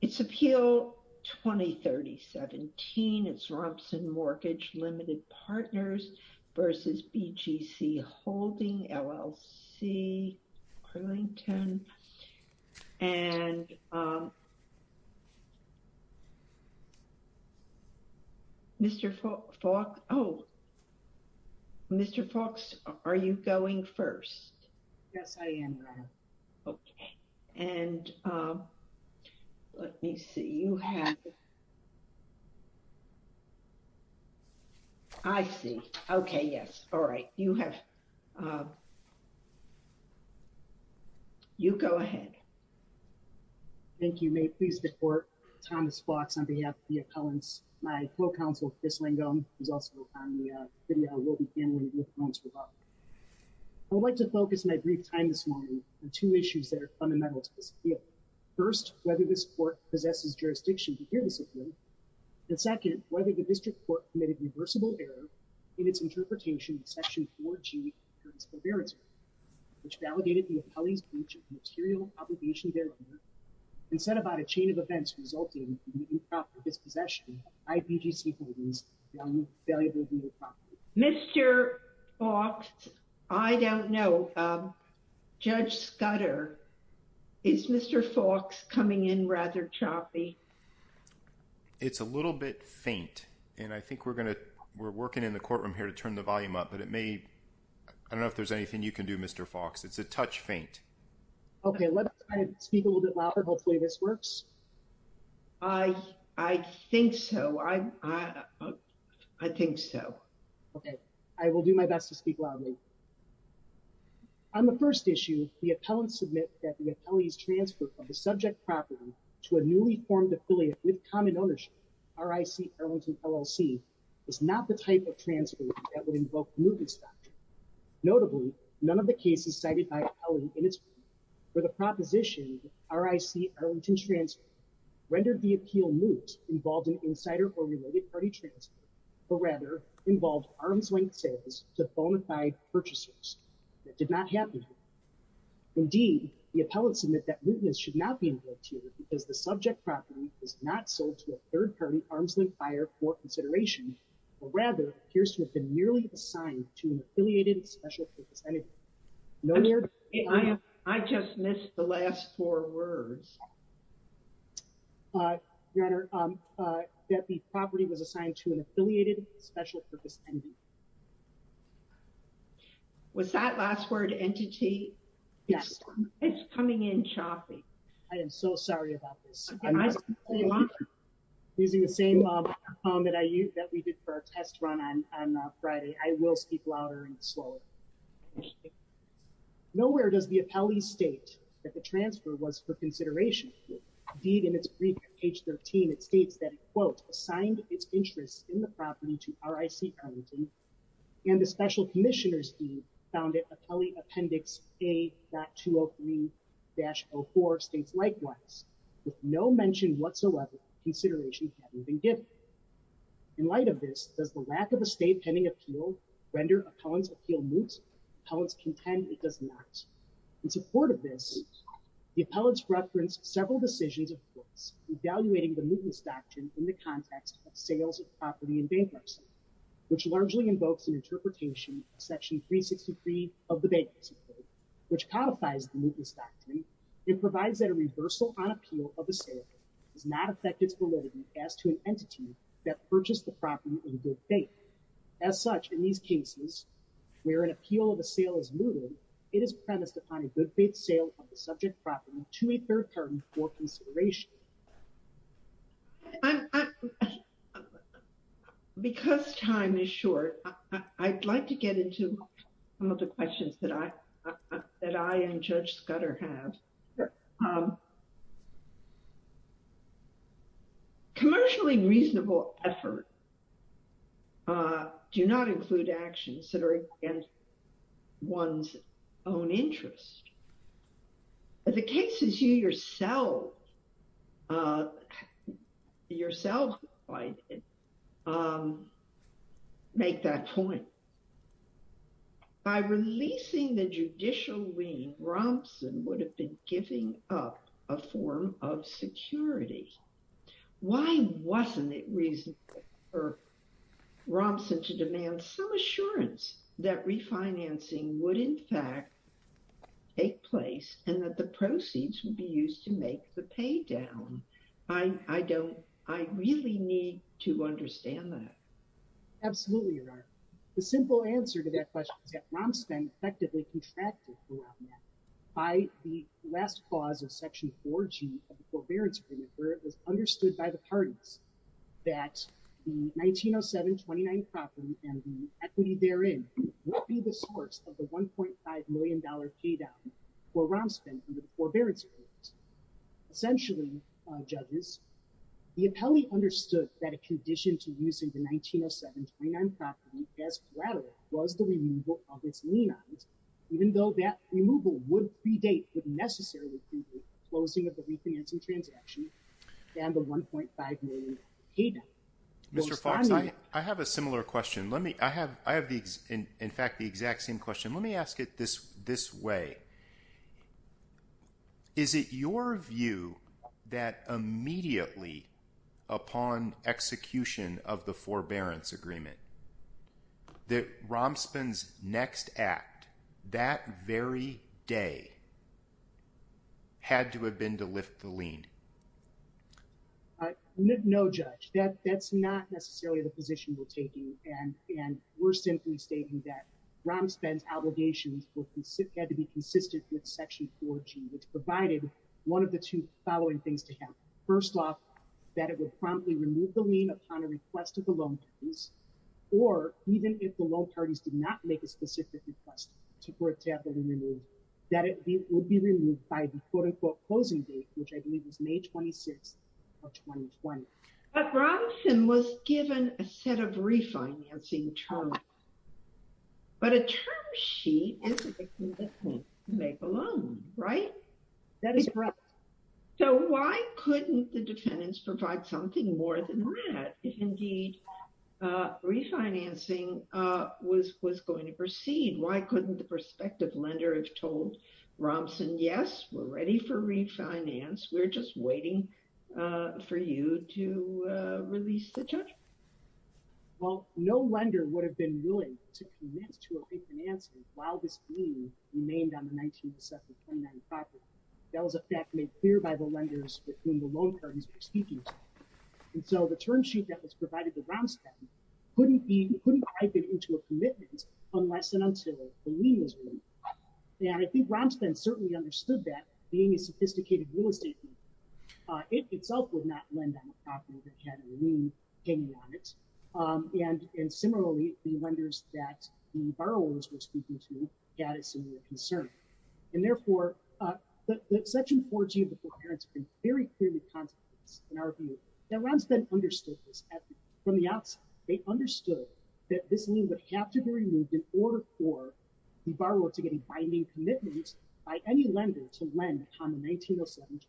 It's appeal 20-30-17. It's Robson Mortgage Limited Partners versus BGC Holding, LLC, Arlington. And Mr. Falk, oh, Mr. Falks, are you going first? Yes, I am. Okay. And let me see. You have, I see. Okay, yes. All right. You have, you go ahead. Thank you. May it please the court, Thomas Falks on behalf of the appellants, my co-counsel, Chris Langone, who's also on the FDL-Wilby family with loans for bond. I'd like to focus my brief time this morning on two issues that are fundamental to this appeal. First, whether this court possesses jurisdiction to hear this appeal. And second, whether the district court committed reversible error in its interpretation of Section 4G, which validated the appellee's breach of material obligation thereon and set about a chain of events resulting in the new property dispossession of IBGC Holdings, a valuable new property. Mr. Falks, I don't know. Judge Scudder, is Mr. Falks coming in rather choppy? It's a little bit faint. And I think we're going to, we're working in the courtroom here to turn the volume up, but it may, I don't know if there's anything you can do, Mr. Falks. It's a touch faint. Okay, let's try to speak a little bit louder. Hopefully this works. I, I think so. I, I, I think so. Okay. I will do my best to speak loudly. On the first issue, the appellants submit that the appellee's transfer from the subject property to a newly formed affiliate with common ownership, RIC Arlington LLC, is not the type of transfer that would invoke the movement statute. Notably, none of the cases cited by the appellant in its rendered the appeal moot, involved an insider or related party transfer, but rather involved arm's length sales to bonafide purchasers. That did not happen. Indeed, the appellants admit that mootness should not be invoked here because the subject property is not sold to a third party arm's length buyer for consideration, but rather appears to have been merely assigned to an affiliated special purpose entity. I just missed the last four words. Uh, rather, um, uh, that the property was assigned to an affiliated special purpose entity. Was that last word entity? Yes. It's coming in choppy. I am so sorry about this. Using the same, um, that I use that we did for our test run on, on Friday. I will speak louder and for consideration. Indeed, in its brief page 13, it states that quote, assigned its interests in the property to RIC Arlington and the special commissioner's deed found it appellee appendix a.203-04 states, likewise, with no mention whatsoever, consideration hadn't been given in light of this. Does the lack of a state pending appeal, render appellants appeal moot? Appellants contend it does not. In support of this, the appellants referenced several decisions of course, evaluating the mootness doctrine in the context of sales of property and bankruptcy, which largely invokes an interpretation section 363 of the bankruptcy code, which codifies the mootness doctrine. It provides that a reversal on appeal of a sale does not affect its validity as to an entity that purchased the property in good faith. As such, in these cases, where an appeal of a sale is mooted, it is premised upon a good faith sale of the subject property to a third party for consideration. Because time is short, I'd like to get into some of the questions that I, that I and Judge Scudder have. Um, commercially reasonable effort, uh, do not include actions that are against one's own interest. The cases you yourself, uh, yourself, um, make that point. By releasing the judicial lien, Romson would have been giving up a form of security. Why wasn't it reasonable for Romson to demand some assurance that refinancing would in fact take place and that the proceeds would be used to make the pay down? I, I don't, I really need to understand that. Absolutely, Your Honor. The simple answer to that question is that Romson effectively contracted throughout that by the last clause of section 14 of the forbearance agreement, where it was understood by the parties that the 1907-29 property and the equity therein would be the source of the $1.5 million pay down for Romson under the forbearance agreement. Essentially, uh, judges, the appellee understood that a condition to use in the 1907-29 property as collateral was the removal of its lien odds, even though that removal would predate the necessary closing of the refinancing transaction and the $1.5 million pay down. Mr. Fox, I, I have a similar question. Let me, I have, I have the, in fact, the exact same question. Let me ask it this, this way. Is it your view that immediately upon execution of the forbearance agreement that Romson's next act that very day had to have been to lift the lien? Uh, no, no judge. That, that's not necessarily the position and, and we're simply stating that Romson's obligations had to be consistent with section 14, which provided one of the two following things to him. First off, that it would promptly remove the lien upon a request of the loan parties, or even if the loan parties did not make a specific request to have the lien removed, that it would be removed by the quote unquote closing date, which I believe was May 26th of 2020. But Romson was given a set of refinancing terms, but a term sheet is a victim that can't make a loan, right? That is correct. So why couldn't the defendants provide something more than that if indeed, uh, refinancing, uh, was, was going to proceed? Why couldn't the prospective lender have told Romson, yes, we're ready for refinance. We're just waiting, uh, for you to, uh, release the judgment? Well, no lender would have been willing to commit to a refinancing while this lien remained on the 19th of September, 1995. That was a fact made clear by the lenders with whom the loan parties were speaking. And so the term sheet that was provided to Romson couldn't be, couldn't type it into a commitment unless and until the lien was removed. And I think Romson certainly understood that being a sophisticated real estate, uh, it itself would not lend on a property that had a lien hanging on it. Um, and, and similarly the lenders that the borrowers were speaking to had a similar concern. And therefore, uh, that, that section 14 before parents have been very clearly contemplates in our view that Romson understood this from the outside. They understood that this lien would have to be removed in order for the borrower to get a binding commitment by any lender to lend on the 19th of September.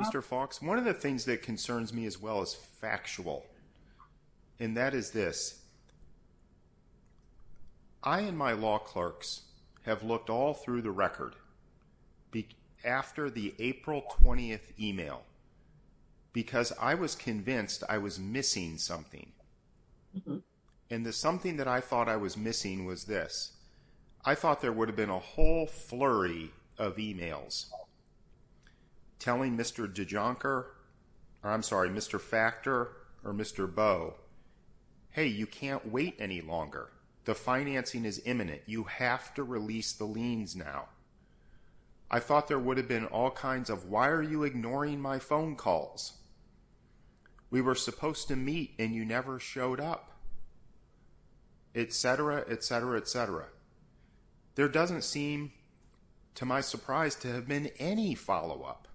Mr. Fox, one of the things that concerns me as well as factual, and that is this, I and my law clerks have looked all through the record after the April 20th email, because I was convinced I was missing something. And the something that I thought I was missing was this. I thought there would have been a whole flurry of emails telling Mr. DeJonker, or I'm sorry, Mr. Factor or Mr. Bo, Hey, you can't wait any longer. The financing is imminent. You have to release the liens now. I thought there would have been all kinds of, why are you ignoring my phone calls? We were supposed to meet and you never showed up, et cetera, et cetera, et cetera. There doesn't seem to my surprise to have been any follow-up,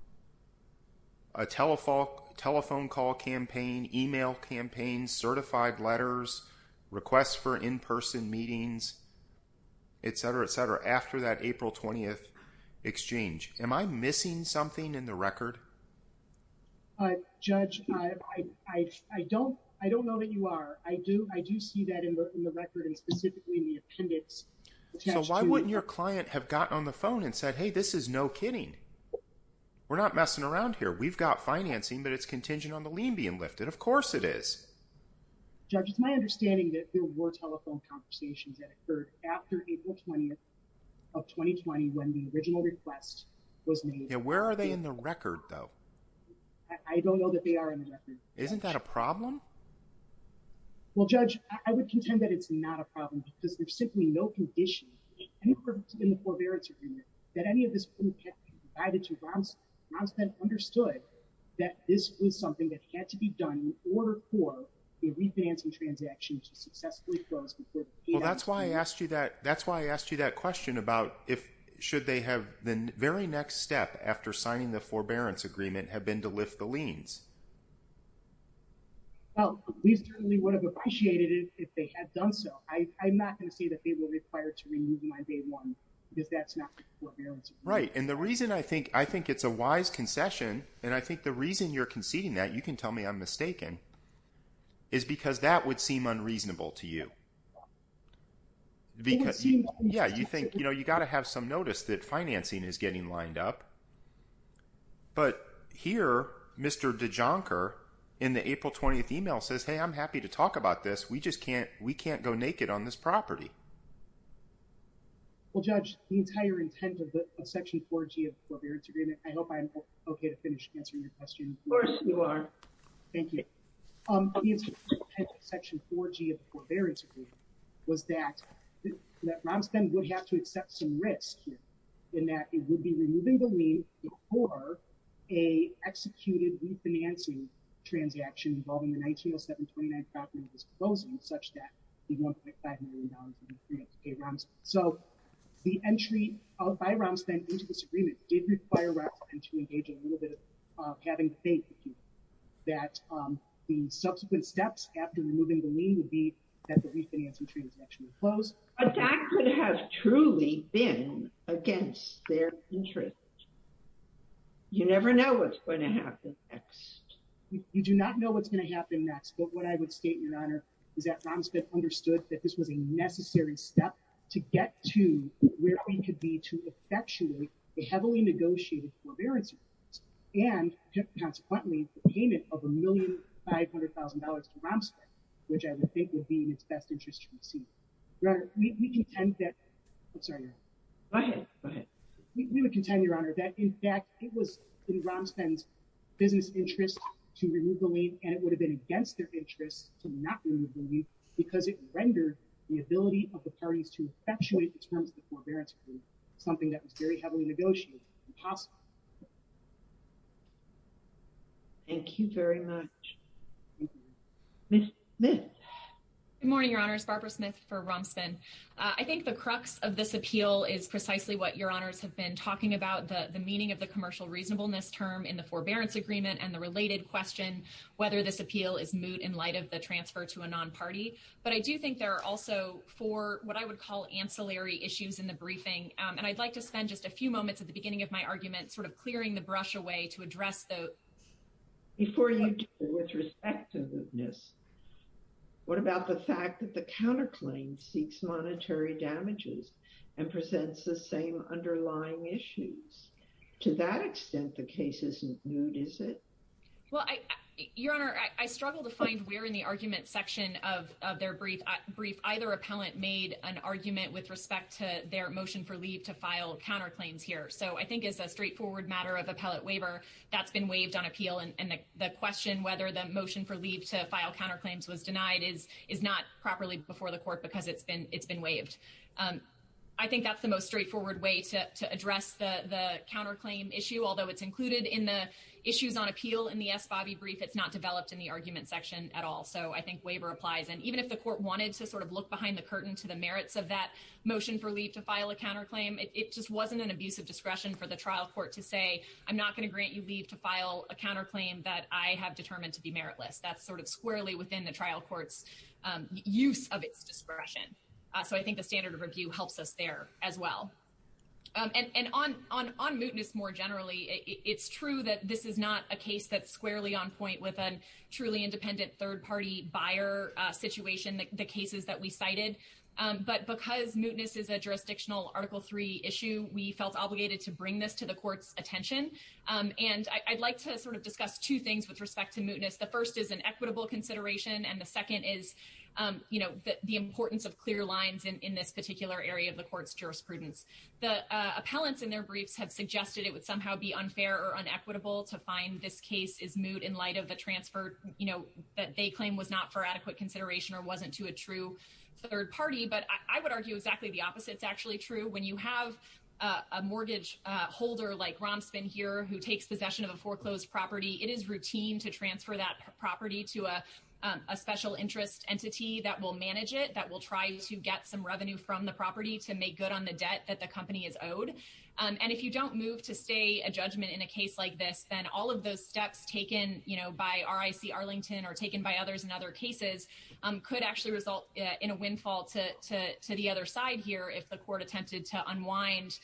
a telephone, telephone call campaign, email campaigns, certified letters, requests for in-person meetings, et cetera, et cetera. After that April 20th exchange, am I missing something in the record? Uh, judge, I, I, I don't, I don't know that you are. I do. I do see that in the, in the record and specifically in the appendix. So why wouldn't your client have gotten on the phone and said, Hey, this is no kidding. We're not messing around here. We've got financing, but it's contingent on the lien being lifted. Of course it is. Judge, it's my understanding that there were telephone conversations that occurred after April 20th of 2020, when the original request was made. Yeah. Where are they in the record though? I don't know that they are in the record. Isn't that a problem? Well, judge, I would contend that it's not a problem because there's simply no condition in the forbearance agreement that any of this couldn't have been provided to Ron Spent understood that this was something that had to be done in order for a refinancing transaction to successfully close. Well, that's why I asked you that. That's why I asked you that question about if, should they have the very next step after signing the forbearance agreement have been to lift the liens? Well, we certainly would have appreciated it if they had done so. I, I'm not going to say that they were required to remove my day one because that's not right. And the reason I think, I think it's a wise concession. And I think the reason you're conceding that you can tell me I'm mistaken is because that would seem unreasonable to you. Because you, yeah, you think, you know, you got to have some notice that financing is getting lined up, but here, Mr. DeJoncker in the April 20th email says, Hey, I'm happy to talk about this. We just can't, we can't go naked on this property. Well, judge the entire intent of the section four G of the forbearance agreement. I hope I'm okay to finish answering your question. Of course you are. Thank you. The intent of section four G of the forbearance agreement was that, that Romsden would have to accept some risk in that it would be removing the lien before a executed refinancing transaction involving the 1907-29 property was closing such that you'd want to pay $500 million to pay Romsden. So the entry by Romsden into this agreement did require Romsden to engage in a little bit of having faith that the subsequent steps after removing the lien would be that the refinancing transaction would close. But that could have truly been against their interest. You never know what's going to happen next. You do not know what's going to happen next. But what I would state, Your Honor, is that Romsden understood that this was a necessary step to get to where we could be to effectuate a heavily negotiated forbearance agreement. And consequently, the payment of $1,500,000 to Romsden, which I would think would be in its best interest to be seen. Your Honor, we contend that, I'm sorry. Go ahead. Go ahead. We would contend, Your Honor, that in fact it was in Romsden's business interest to remove the lien and it would have been against their interest to not remove the lien because it rendered the ability of the parties to effectuate the terms of the forbearance agreement something that was very heavily negotiated impossible. Thank you very much. Ms. Smith. Good morning, Your Honors. Barbara Smith for Romsden. I think the crux of this appeal is precisely what Your Honors have been talking about, the meaning of the commercial reasonableness term in the forbearance agreement and the related question whether this appeal is moot in light of the transfer to a non-party. But I do think there are also four what I would call ancillary issues in the briefing. And I'd like to spend just a few moments at the beginning of my argument sort of clearing the brush away to address those. Before you do, with respect to mootness, what about the fact that the counterclaim seeks monetary damages and presents the same underlying issues? To that extent, the case isn't moot, is it? Well, Your Honor, I struggle to find where in the argument section of their brief either appellant made an argument with respect to their motion for leave to file counterclaims here. So I think it's a straightforward matter of appellate waiver that's been waived on appeal. And the question whether the motion for leave to file counterclaims was denied is not properly before the court because it's been waived. I think that's the most straightforward way to address the counterclaim issue. Although it's included in the issues on appeal in the S. Bobby brief, it's not developed in the argument section at all. So I think waiver applies. And even if the look behind the curtain to the merits of that motion for leave to file a counterclaim, it just wasn't an abusive discretion for the trial court to say, I'm not going to grant you leave to file a counterclaim that I have determined to be meritless. That's sort of squarely within the trial court's use of its discretion. So I think the standard of review helps us there as well. And on mootness more generally, it's true that this is not a case that's squarely on point with truly independent third party buyer situation, the cases that we cited. But because mootness is a jurisdictional Article III issue, we felt obligated to bring this to the court's attention. And I'd like to sort of discuss two things with respect to mootness. The first is an equitable consideration. And the second is the importance of clear lines in this particular area of the court's jurisprudence. The appellants in their briefs have suggested it would somehow be unfair or unequitable to find this case is moot in light of the transfer that they claim was not for adequate consideration or wasn't to a true third party. But I would argue exactly the opposite is actually true. When you have a mortgage holder like Romspen here who takes possession of a foreclosed property, it is routine to transfer that property to a special interest entity that will manage it, that will try to get some revenue from the property to make good on the debt that company is owed. And if you don't move to stay a judgment in a case like this, then all of those steps taken by RIC Arlington or taken by others in other cases could actually result in a windfall to the other side here if the court attempted to unwind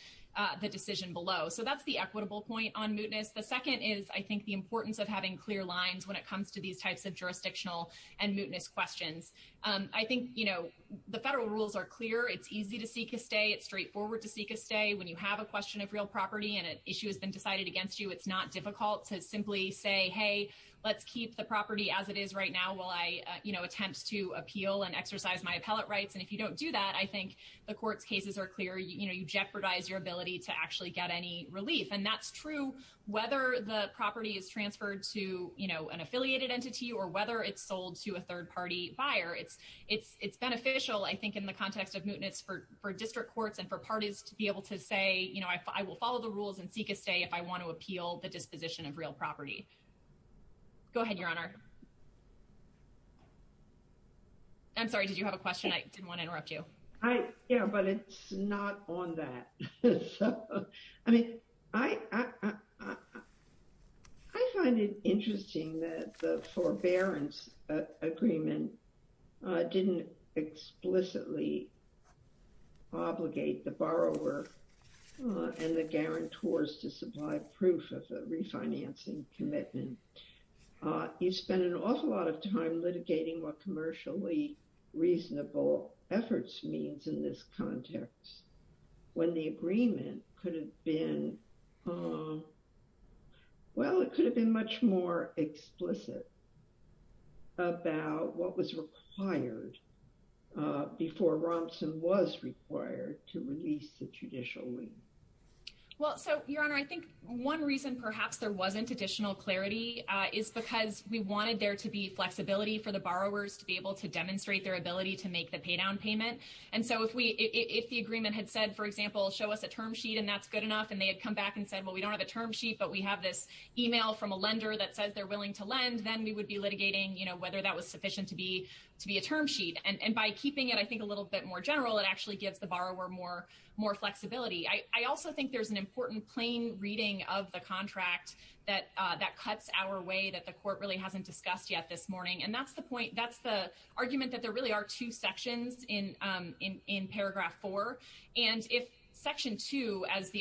the decision below. So that's the equitable point on mootness. The second is, I think, the importance of having clear lines when it comes to these types of jurisdictional and mootness questions. I think the federal rules are clear. It's easy to seek a stay. It's straightforward to seek a stay. When you have a question of real property and an issue has been decided against you, it's not difficult to simply say, hey, let's keep the property as it is right now while I, you know, attempt to appeal and exercise my appellate rights. And if you don't do that, I think the court's cases are clear. You know, you jeopardize your ability to actually get any relief. And that's true whether the property is transferred to, you know, an affiliated entity or whether it's sold to a third party buyer. It's beneficial, I think, in the context of mootness for district courts and for parties to be able to say, you know, I will follow the rules and seek a stay if I want to appeal the disposition of real property. Go ahead, Your Honor. I'm sorry, did you have a question? I didn't want to interrupt you. Yeah, but it's not on that. I mean, I find it interesting that the forbearance agreement didn't explicitly obligate the borrower and the guarantors to supply proof of the refinancing commitment. You spend an awful lot of time litigating what commercially reasonable efforts means in this context, when the agreement could have been, um, well, it could have been much more explicit about what was required before Rompson was required to release the judicial lien. Well, so, Your Honor, I think one reason perhaps there wasn't additional clarity is because we wanted there to be flexibility for the borrowers to be able to demonstrate their ability to make the paydown payment. And so if we, if the agreement had said, for example, show us a term sheet, and that's good enough, and they had come back and said, well, we don't have a term sheet, but we have this email from a lender that says they're willing to lend, then we would be litigating, you know, whether that was sufficient to be, to be a term sheet. And by keeping it, I think a little bit more general, it actually gives the borrower more, more flexibility. I also think there's an important plain reading of the contract that, uh, that cuts our way that the court really hasn't discussed yet this morning. And that's the point, that's the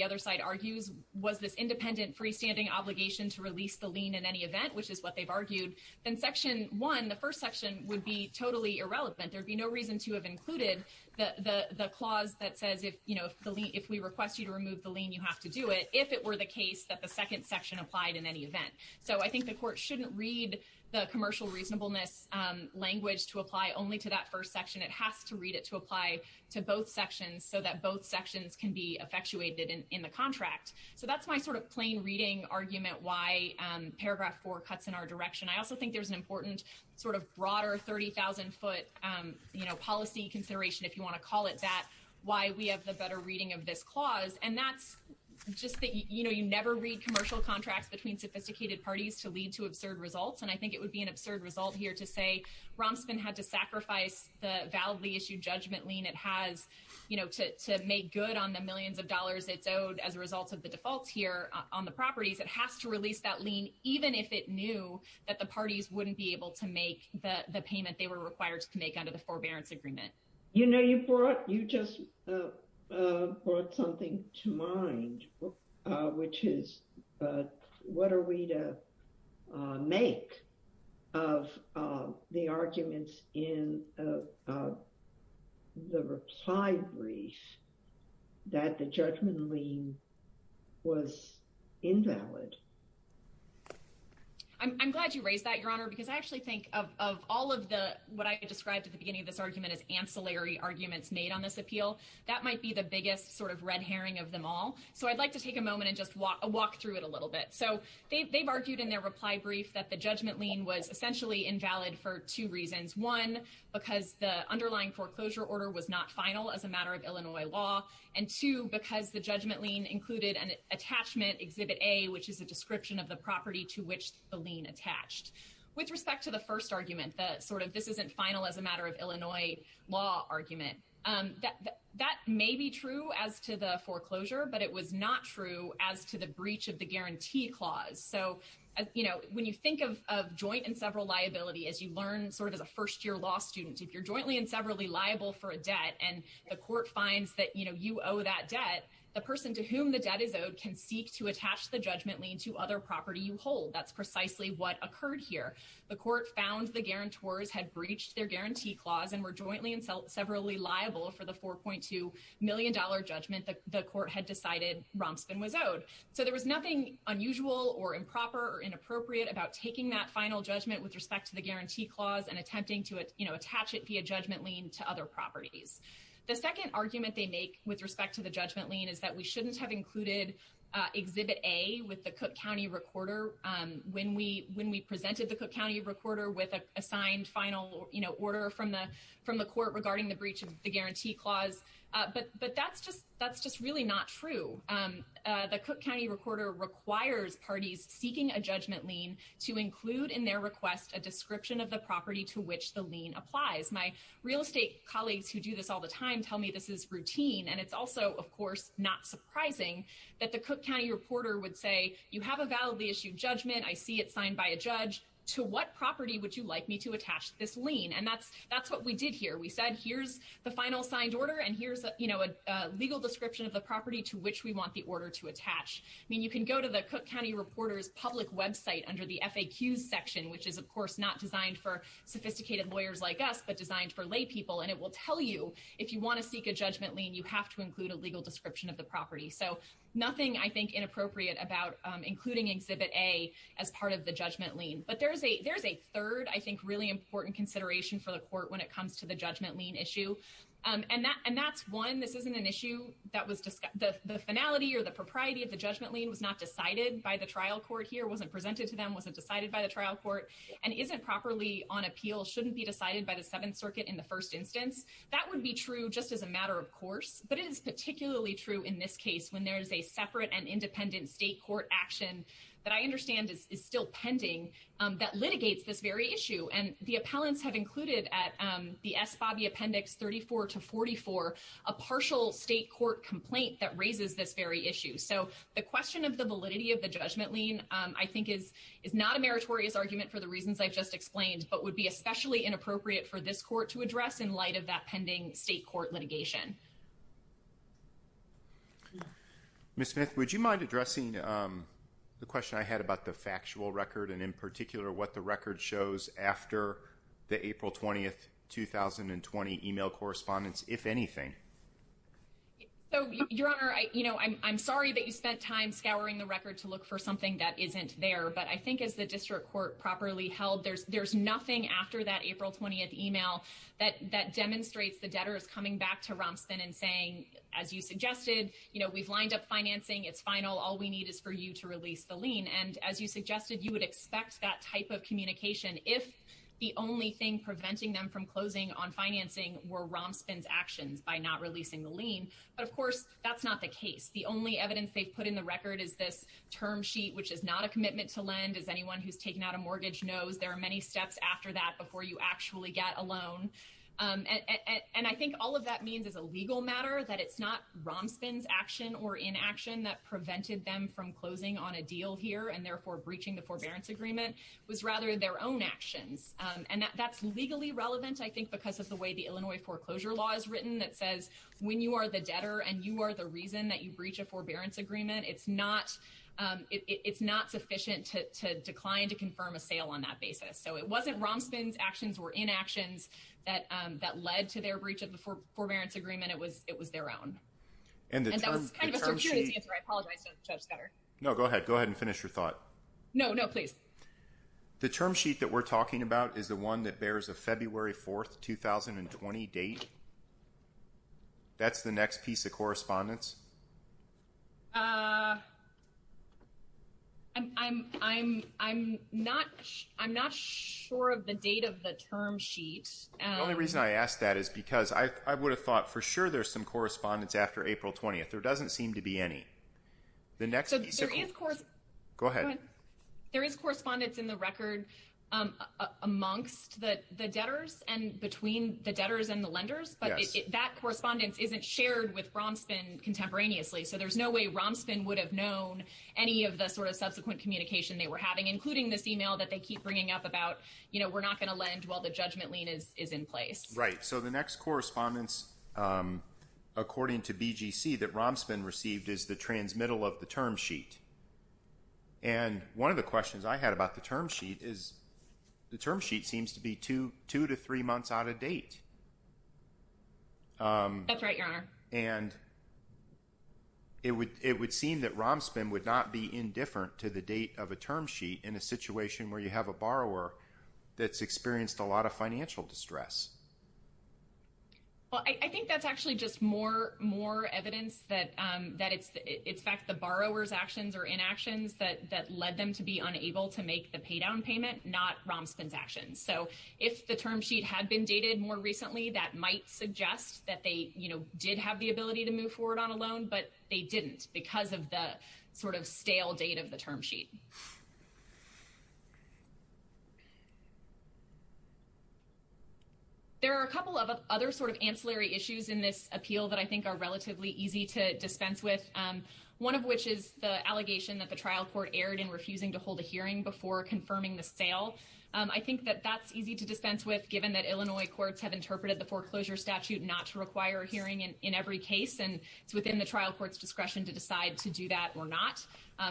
other side argues was this independent freestanding obligation to release the lien in any event, which is what they've argued, then section one, the first section would be totally irrelevant. There'd be no reason to have included the, the, the clause that says if, you know, if the lien, if we request you to remove the lien, you have to do it, if it were the case that the second section applied in any event. So I think the court shouldn't read the commercial reasonableness, um, language to apply only to that first section. It has to read it to apply to both sections so that both sections can be effectuated in, in the contract. So that's my sort of plain reading argument why, um, paragraph four cuts in our direction. I also think there's an important sort of broader 30,000 foot, um, you know, policy consideration, if you want to call it that, why we have the better reading of this clause. And that's just that, you know, you never read commercial contracts between sophisticated parties to lead to absurd results. And I think it would be an absurd result here to say Romspen had to sacrifice the validly issued judgment lien. It has, you know, to, to make good on the millions of dollars it's owed as a result of the defaults here on the properties, it has to release that lien, even if it knew that the parties wouldn't be able to make the payment they were required to make under the forbearance agreement. You know, you brought, you just, uh, uh, brought something to mind, uh, which is, uh, what are we to, uh, make of, uh, the arguments in, uh, uh, the reply brief that the judgment lien was invalid. I'm glad you raised that your honor, because I actually think of, of all of the, what I described at the beginning of this argument is ancillary arguments made on this appeal. That might be the biggest sort of red herring of them all. So I'd like to take a moment and walk through it a little bit. So they've, they've argued in their reply brief that the judgment lien was essentially invalid for two reasons. One, because the underlying foreclosure order was not final as a matter of Illinois law. And two, because the judgment lien included an attachment exhibit A, which is a description of the property to which the lien attached. With respect to the first argument, the sort of this isn't final as a matter of Illinois law argument. Um, that, that may be true as to the foreclosure, but it was not true as to the breach of the guarantee clause. So, uh, you know, when you think of, of joint and several liability, as you learn sort of as a first year law student, if you're jointly and severally liable for a debt and the court finds that, you know, you owe that debt, the person to whom the debt is owed can seek to attach the judgment lien to other property you hold. That's precisely what occurred here. The court found the guarantors had breached their guarantee clause and were jointly and severally liable for the $4.2 million judgment that the court had decided Romspen was owed. So there was nothing unusual or improper or inappropriate about taking that final judgment with respect to the guarantee clause and attempting to, you know, attach it via judgment lien to other properties. The second argument they make with respect to the judgment lien is that we shouldn't have included, uh, exhibit A with the Cook County recorder. Um, when we, when we presented the Cook County recorder with a assigned final, you know, order from the, from the court regarding the breach of the guarantee clause. Uh, but, but that's just, that's just really not true. Um, uh, the Cook County recorder requires parties seeking a judgment lien to include in their request, a description of the property to which the lien applies. My real estate colleagues who do this all the time, tell me this is routine. And it's also, of course, not surprising that the Cook County reporter would say you have a validly issued judgment. I see it signed by a judge to what property would you like me to attach this lien? And that's, that's what we did here. We said, here's the final signed order. And here's, you know, a legal description of the property to which we want the order to attach. I mean, you can go to the Cook County reporters public website under the FAQ section, which is of course, not designed for sophisticated lawyers like us, but designed for lay people. And it will tell you if you want to seek a judgment lien, you have to include a legal description of the property. So nothing I think inappropriate about, um, including exhibit a, as part of the judgment lien, but there's a, there's a third, I think really important consideration for the court when it comes to the judgment lien issue. Um, and that, and that's one, this isn't an issue that was discussed the finality or the propriety of the judgment lien was not decided by the trial court here. Wasn't presented to them. Wasn't decided by the trial court and isn't properly on appeal. Shouldn't be decided by the seventh circuit in the first instance, that would be true just as a matter of course, but it is particularly true in this case when there is a separate and independent state court action that I understand is still pending, um, that litigates this very issue. And the appellants have included at, um, the S Bobby appendix 34 to 44, a partial state court complaint that raises this very issue. So the question of the validity of the judgment lien, um, I think is, is not a meritorious argument for the reasons I've just explained, but would especially inappropriate for this court to address in light of that pending state court litigation. Miss Smith, would you mind addressing, um, the question I had about the factual record and in particular what the record shows after the April 20th, 2020 email correspondence, if anything. So your honor, I, you know, I'm, I'm sorry that you spent time scouring the record to look for something that isn't there, but I think as the district court properly held, there's, there's nothing after that April 20th email that, that demonstrates the debtors coming back to Romspen and saying, as you suggested, you know, we've lined up financing, it's final. All we need is for you to release the lien. And as you suggested, you would expect that type of communication. If the only thing preventing them from closing on financing were Romspen's actions by not releasing the lien. But of course, that's not the case. The only evidence they've put in the record is this term sheet, which is not a commitment to lend as anyone who's taken out a mortgage knows there are many steps after that before you actually get a loan. And I think all of that means as a legal matter that it's not Romspen's action or inaction that prevented them from closing on a deal here and therefore breaching the forbearance agreement was rather their own actions. And that's legally relevant, I think, because of the way the Illinois foreclosure law is written that says when you are the debtor and you are the reason that you breach a forbearance agreement, it's not, it's not to confirm a sale on that basis. So it wasn't Romspen's actions were inactions that led to their breach of the forbearance agreement. It was their own. And that was kind of a circuitous answer. I apologize, Judge Scudder. No, go ahead. Go ahead and finish your thought. No, no, please. The term sheet that we're talking about is the one that bears a February 4th, 2020 date. That's the next piece of correspondence? I'm not sure of the date of the term sheet. The only reason I asked that is because I would have thought for sure there's some correspondence after April 20th. There doesn't seem to be any. The next piece of... So there is... Go ahead. Go ahead. There is correspondence in the record amongst the debtors and between the debtors and the lenders, but that correspondence isn't shared with Romspen, considering that the So there's no way Romspen would have known any of the sort of subsequent communication they were having, including this email that they keep bringing up about, you know, we're not going to lend while the judgment lien is in place. Right. So the next correspondence, according to BGC, that Romspen received is the transmittal of the term sheet. And one of the questions I had about the term sheet is the term sheet seems to be two to three months out of date. That's right, Your Honor. And it would seem that Romspen would not be indifferent to the date of a term sheet in a situation where you have a borrower that's experienced a lot of financial distress. Well, I think that's actually just more evidence that it's in fact the borrower's actions or inactions that led them to be unable to make the pay down payment, not Romspen's actions. So if the term sheet had been dated more recently, that might suggest that they, did have the ability to move forward on a loan, but they didn't because of the sort of stale date of the term sheet. There are a couple of other sort of ancillary issues in this appeal that I think are relatively easy to dispense with, one of which is the allegation that the trial court erred in refusing to hold a hearing before confirming the sale. I think that that's easy to dispense with, given that Illinois courts have interpreted the foreclosure statute not to require a hearing in every case, and it's within the trial court's discretion to decide to do that or not.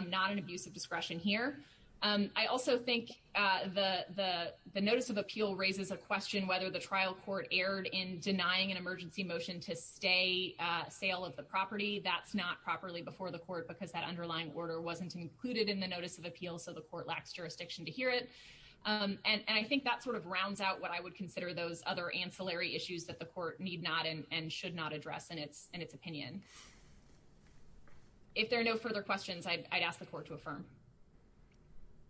Not an abuse of discretion here. I also think the notice of appeal raises a question whether the trial court erred in denying an emergency motion to stay sale of the property. That's not properly before the court because that underlying order wasn't included in the notice of appeal, so the court lacks jurisdiction to hear it. I think that sort of rounds out what I would consider those other ancillary issues that the court need not and should not address in its opinion. If there are no further questions, I'd ask the court to affirm.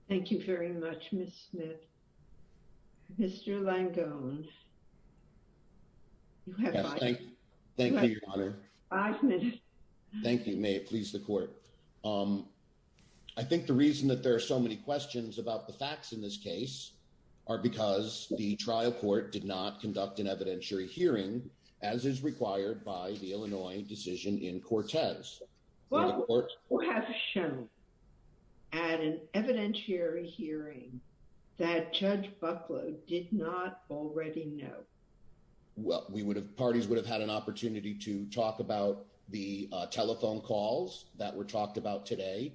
Thank you very much, Ms. Smith. Mr. Langone, you have five minutes. Thank you, may it please the court. Um, I think the reason that there are so many questions about the facts in this case are because the trial court did not conduct an evidentiary hearing, as is required by the Illinois decision in Cortez. What would have shown at an evidentiary hearing that Judge Bucklow did not already know? Well, we would have parties would have had an opportunity to talk about the telephone calls that were talked about today.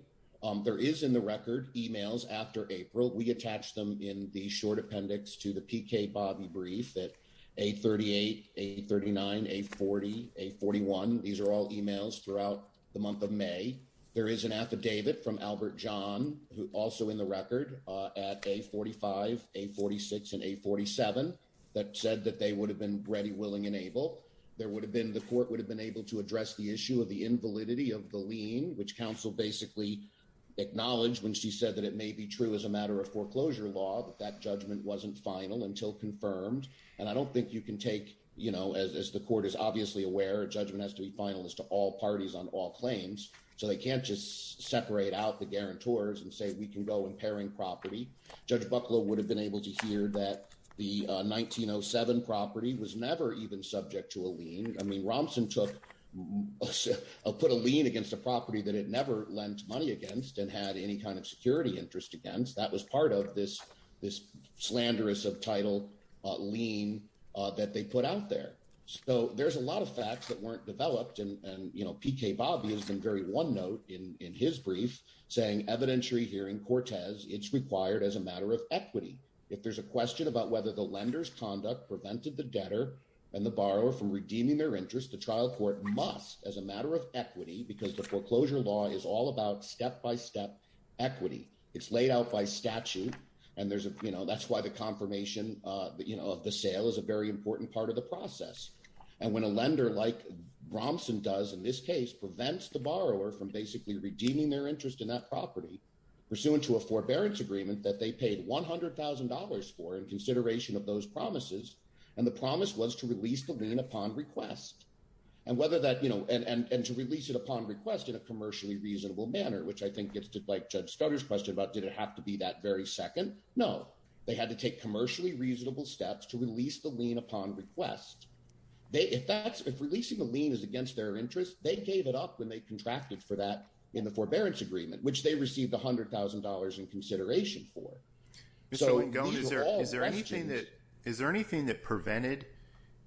There is in the record emails after April. We attach them in the short appendix to the PK Bobby brief that a 38, a 39, a 40, a 41. These are all emails throughout the month of May. There is an affidavit from Albert John, who also in the record at a 45, a 46 and a 47 that said that they would have been ready, willing and able. There would have been the court would have been able to address the issue of the invalidity of the lien, which counsel basically acknowledged when she said that it may be true as a matter of foreclosure law that that judgment wasn't final until confirmed. And I don't think you can take, you know, as the court is obviously aware, judgment has to be final as to all parties on all claims. So they can't just separate out the guarantors and say we can go in pairing property. Judge Bucklow would have been able to hear that the 1907 property was never even subject to a lien. I mean, Romsen took, put a lien against a property that it never lent money against and had any kind of security interest against. That was part of this, this slanderous of title lien that they put out there. So there's a lot of facts that weren't developed. And, you know, PK Bobby has been very one note in his brief saying evidentiary hearing Cortez, it's required as a matter of equity. If there's a question about whether the lender's conduct prevented the debtor and the borrower from redeeming their interest, the trial court must as a matter of equity, because the foreclosure law is all about step-by-step equity. It's laid out by statute. And there's a, you know, that's why the confirmation of the sale is a very important part of the process. And when a lender like Romsen does in this case prevents the borrower from basically redeeming their interest in that property pursuant to a forbearance agreement that they paid $100,000 for in consideration of those promises. And the promise was to release the lien upon request and whether that, you know, and to release it upon request in a commercially reasonable manner, which I think gets to like Judge Stoddard's question about, did it have to be that very second? No, they had to take commercially reasonable steps to release the lien upon request. They, if that's, if releasing the lien is against their interest, they gave it up when they contracted for that in the forbearance agreement, which they received $100,000 in consideration for. So is there, is there anything that, is there anything that prevented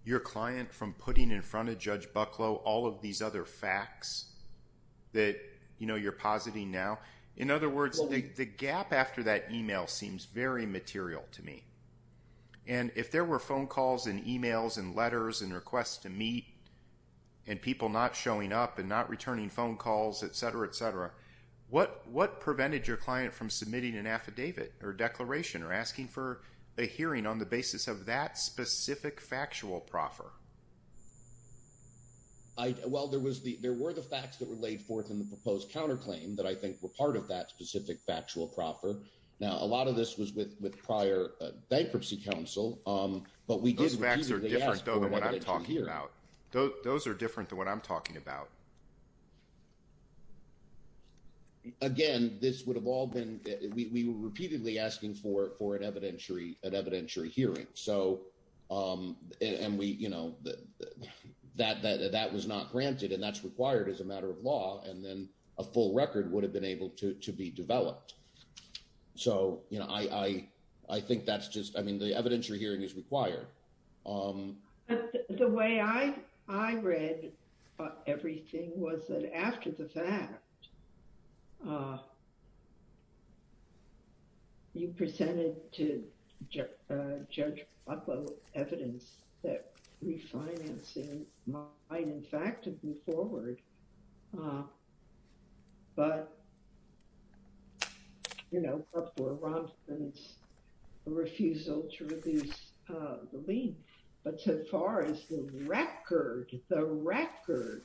your client from putting in front of Judge Bucklow, all of these other facts that, you know, you're positing now? In other words, the gap after that email seems very material to me. And if there were phone calls and emails and letters and requests to meet and people not showing up and not returning phone calls, et cetera, et cetera, what, what prevented your client from submitting an affidavit or declaration or asking for a hearing on the basis of that specific factual proffer? I, well, there was the, there were the facts that were laid forth in the proposed counterclaim that I think were part of that specific factual proffer. Now, a lot of this was with, with prior bankruptcy counsel. Um, but we did, those facts are different though than what I'm talking about. Those are different than what I'm talking about. Again, this would have all been, we, we were repeatedly asking for, for an evidentiary, an evidentiary hearing. So, um, and we, you know, that, that, that was not granted and that's required as a matter of law. And then a full record would have been able to, to be developed. So, you know, I, I, I think that's just, I mean, the evidentiary hearing is required. Um, the way I, I read, uh, everything was that after the fact, uh, you presented to Judge, uh, Judge Bobbo evidence that refinancing might in fact move forward, uh, but you know, before Robinson's refusal to reduce, uh, but so far as the record, the record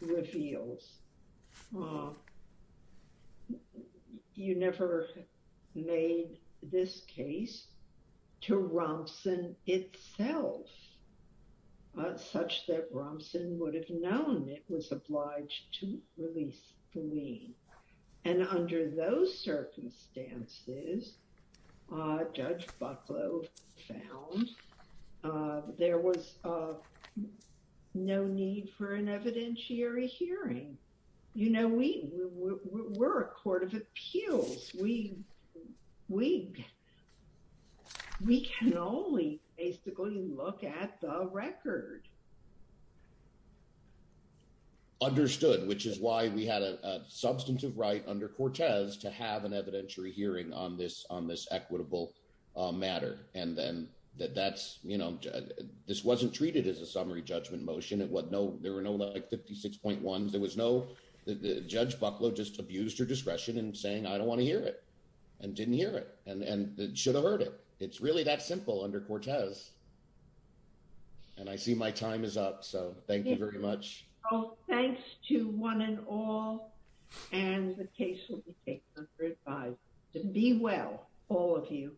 reveals, uh, you never made this case to Robinson itself, uh, such that Robinson would have known it was obliged to release the lien. And under those circumstances, uh, Judge Bucklow found, uh, there was, uh, no need for an evidentiary hearing. You know, we, we're a court of appeals. We, we, we can only basically look at the record. Understood, which is why we had a substantive right under Cortez to have an evidentiary hearing on this, on this equitable, uh, matter. And then that that's, you know, this wasn't treated as a summary judgment motion. It was no, there were no like 56.1. There was no, the Judge Bucklow just abused her discretion and saying, I don't want to hear it and didn't hear it. And, and it should have heard it. It's really that simple under Cortez. And I see my time is up. So thank you very much. Oh, thanks to one and all, and the case will be taken under advisory. So be well, all of you.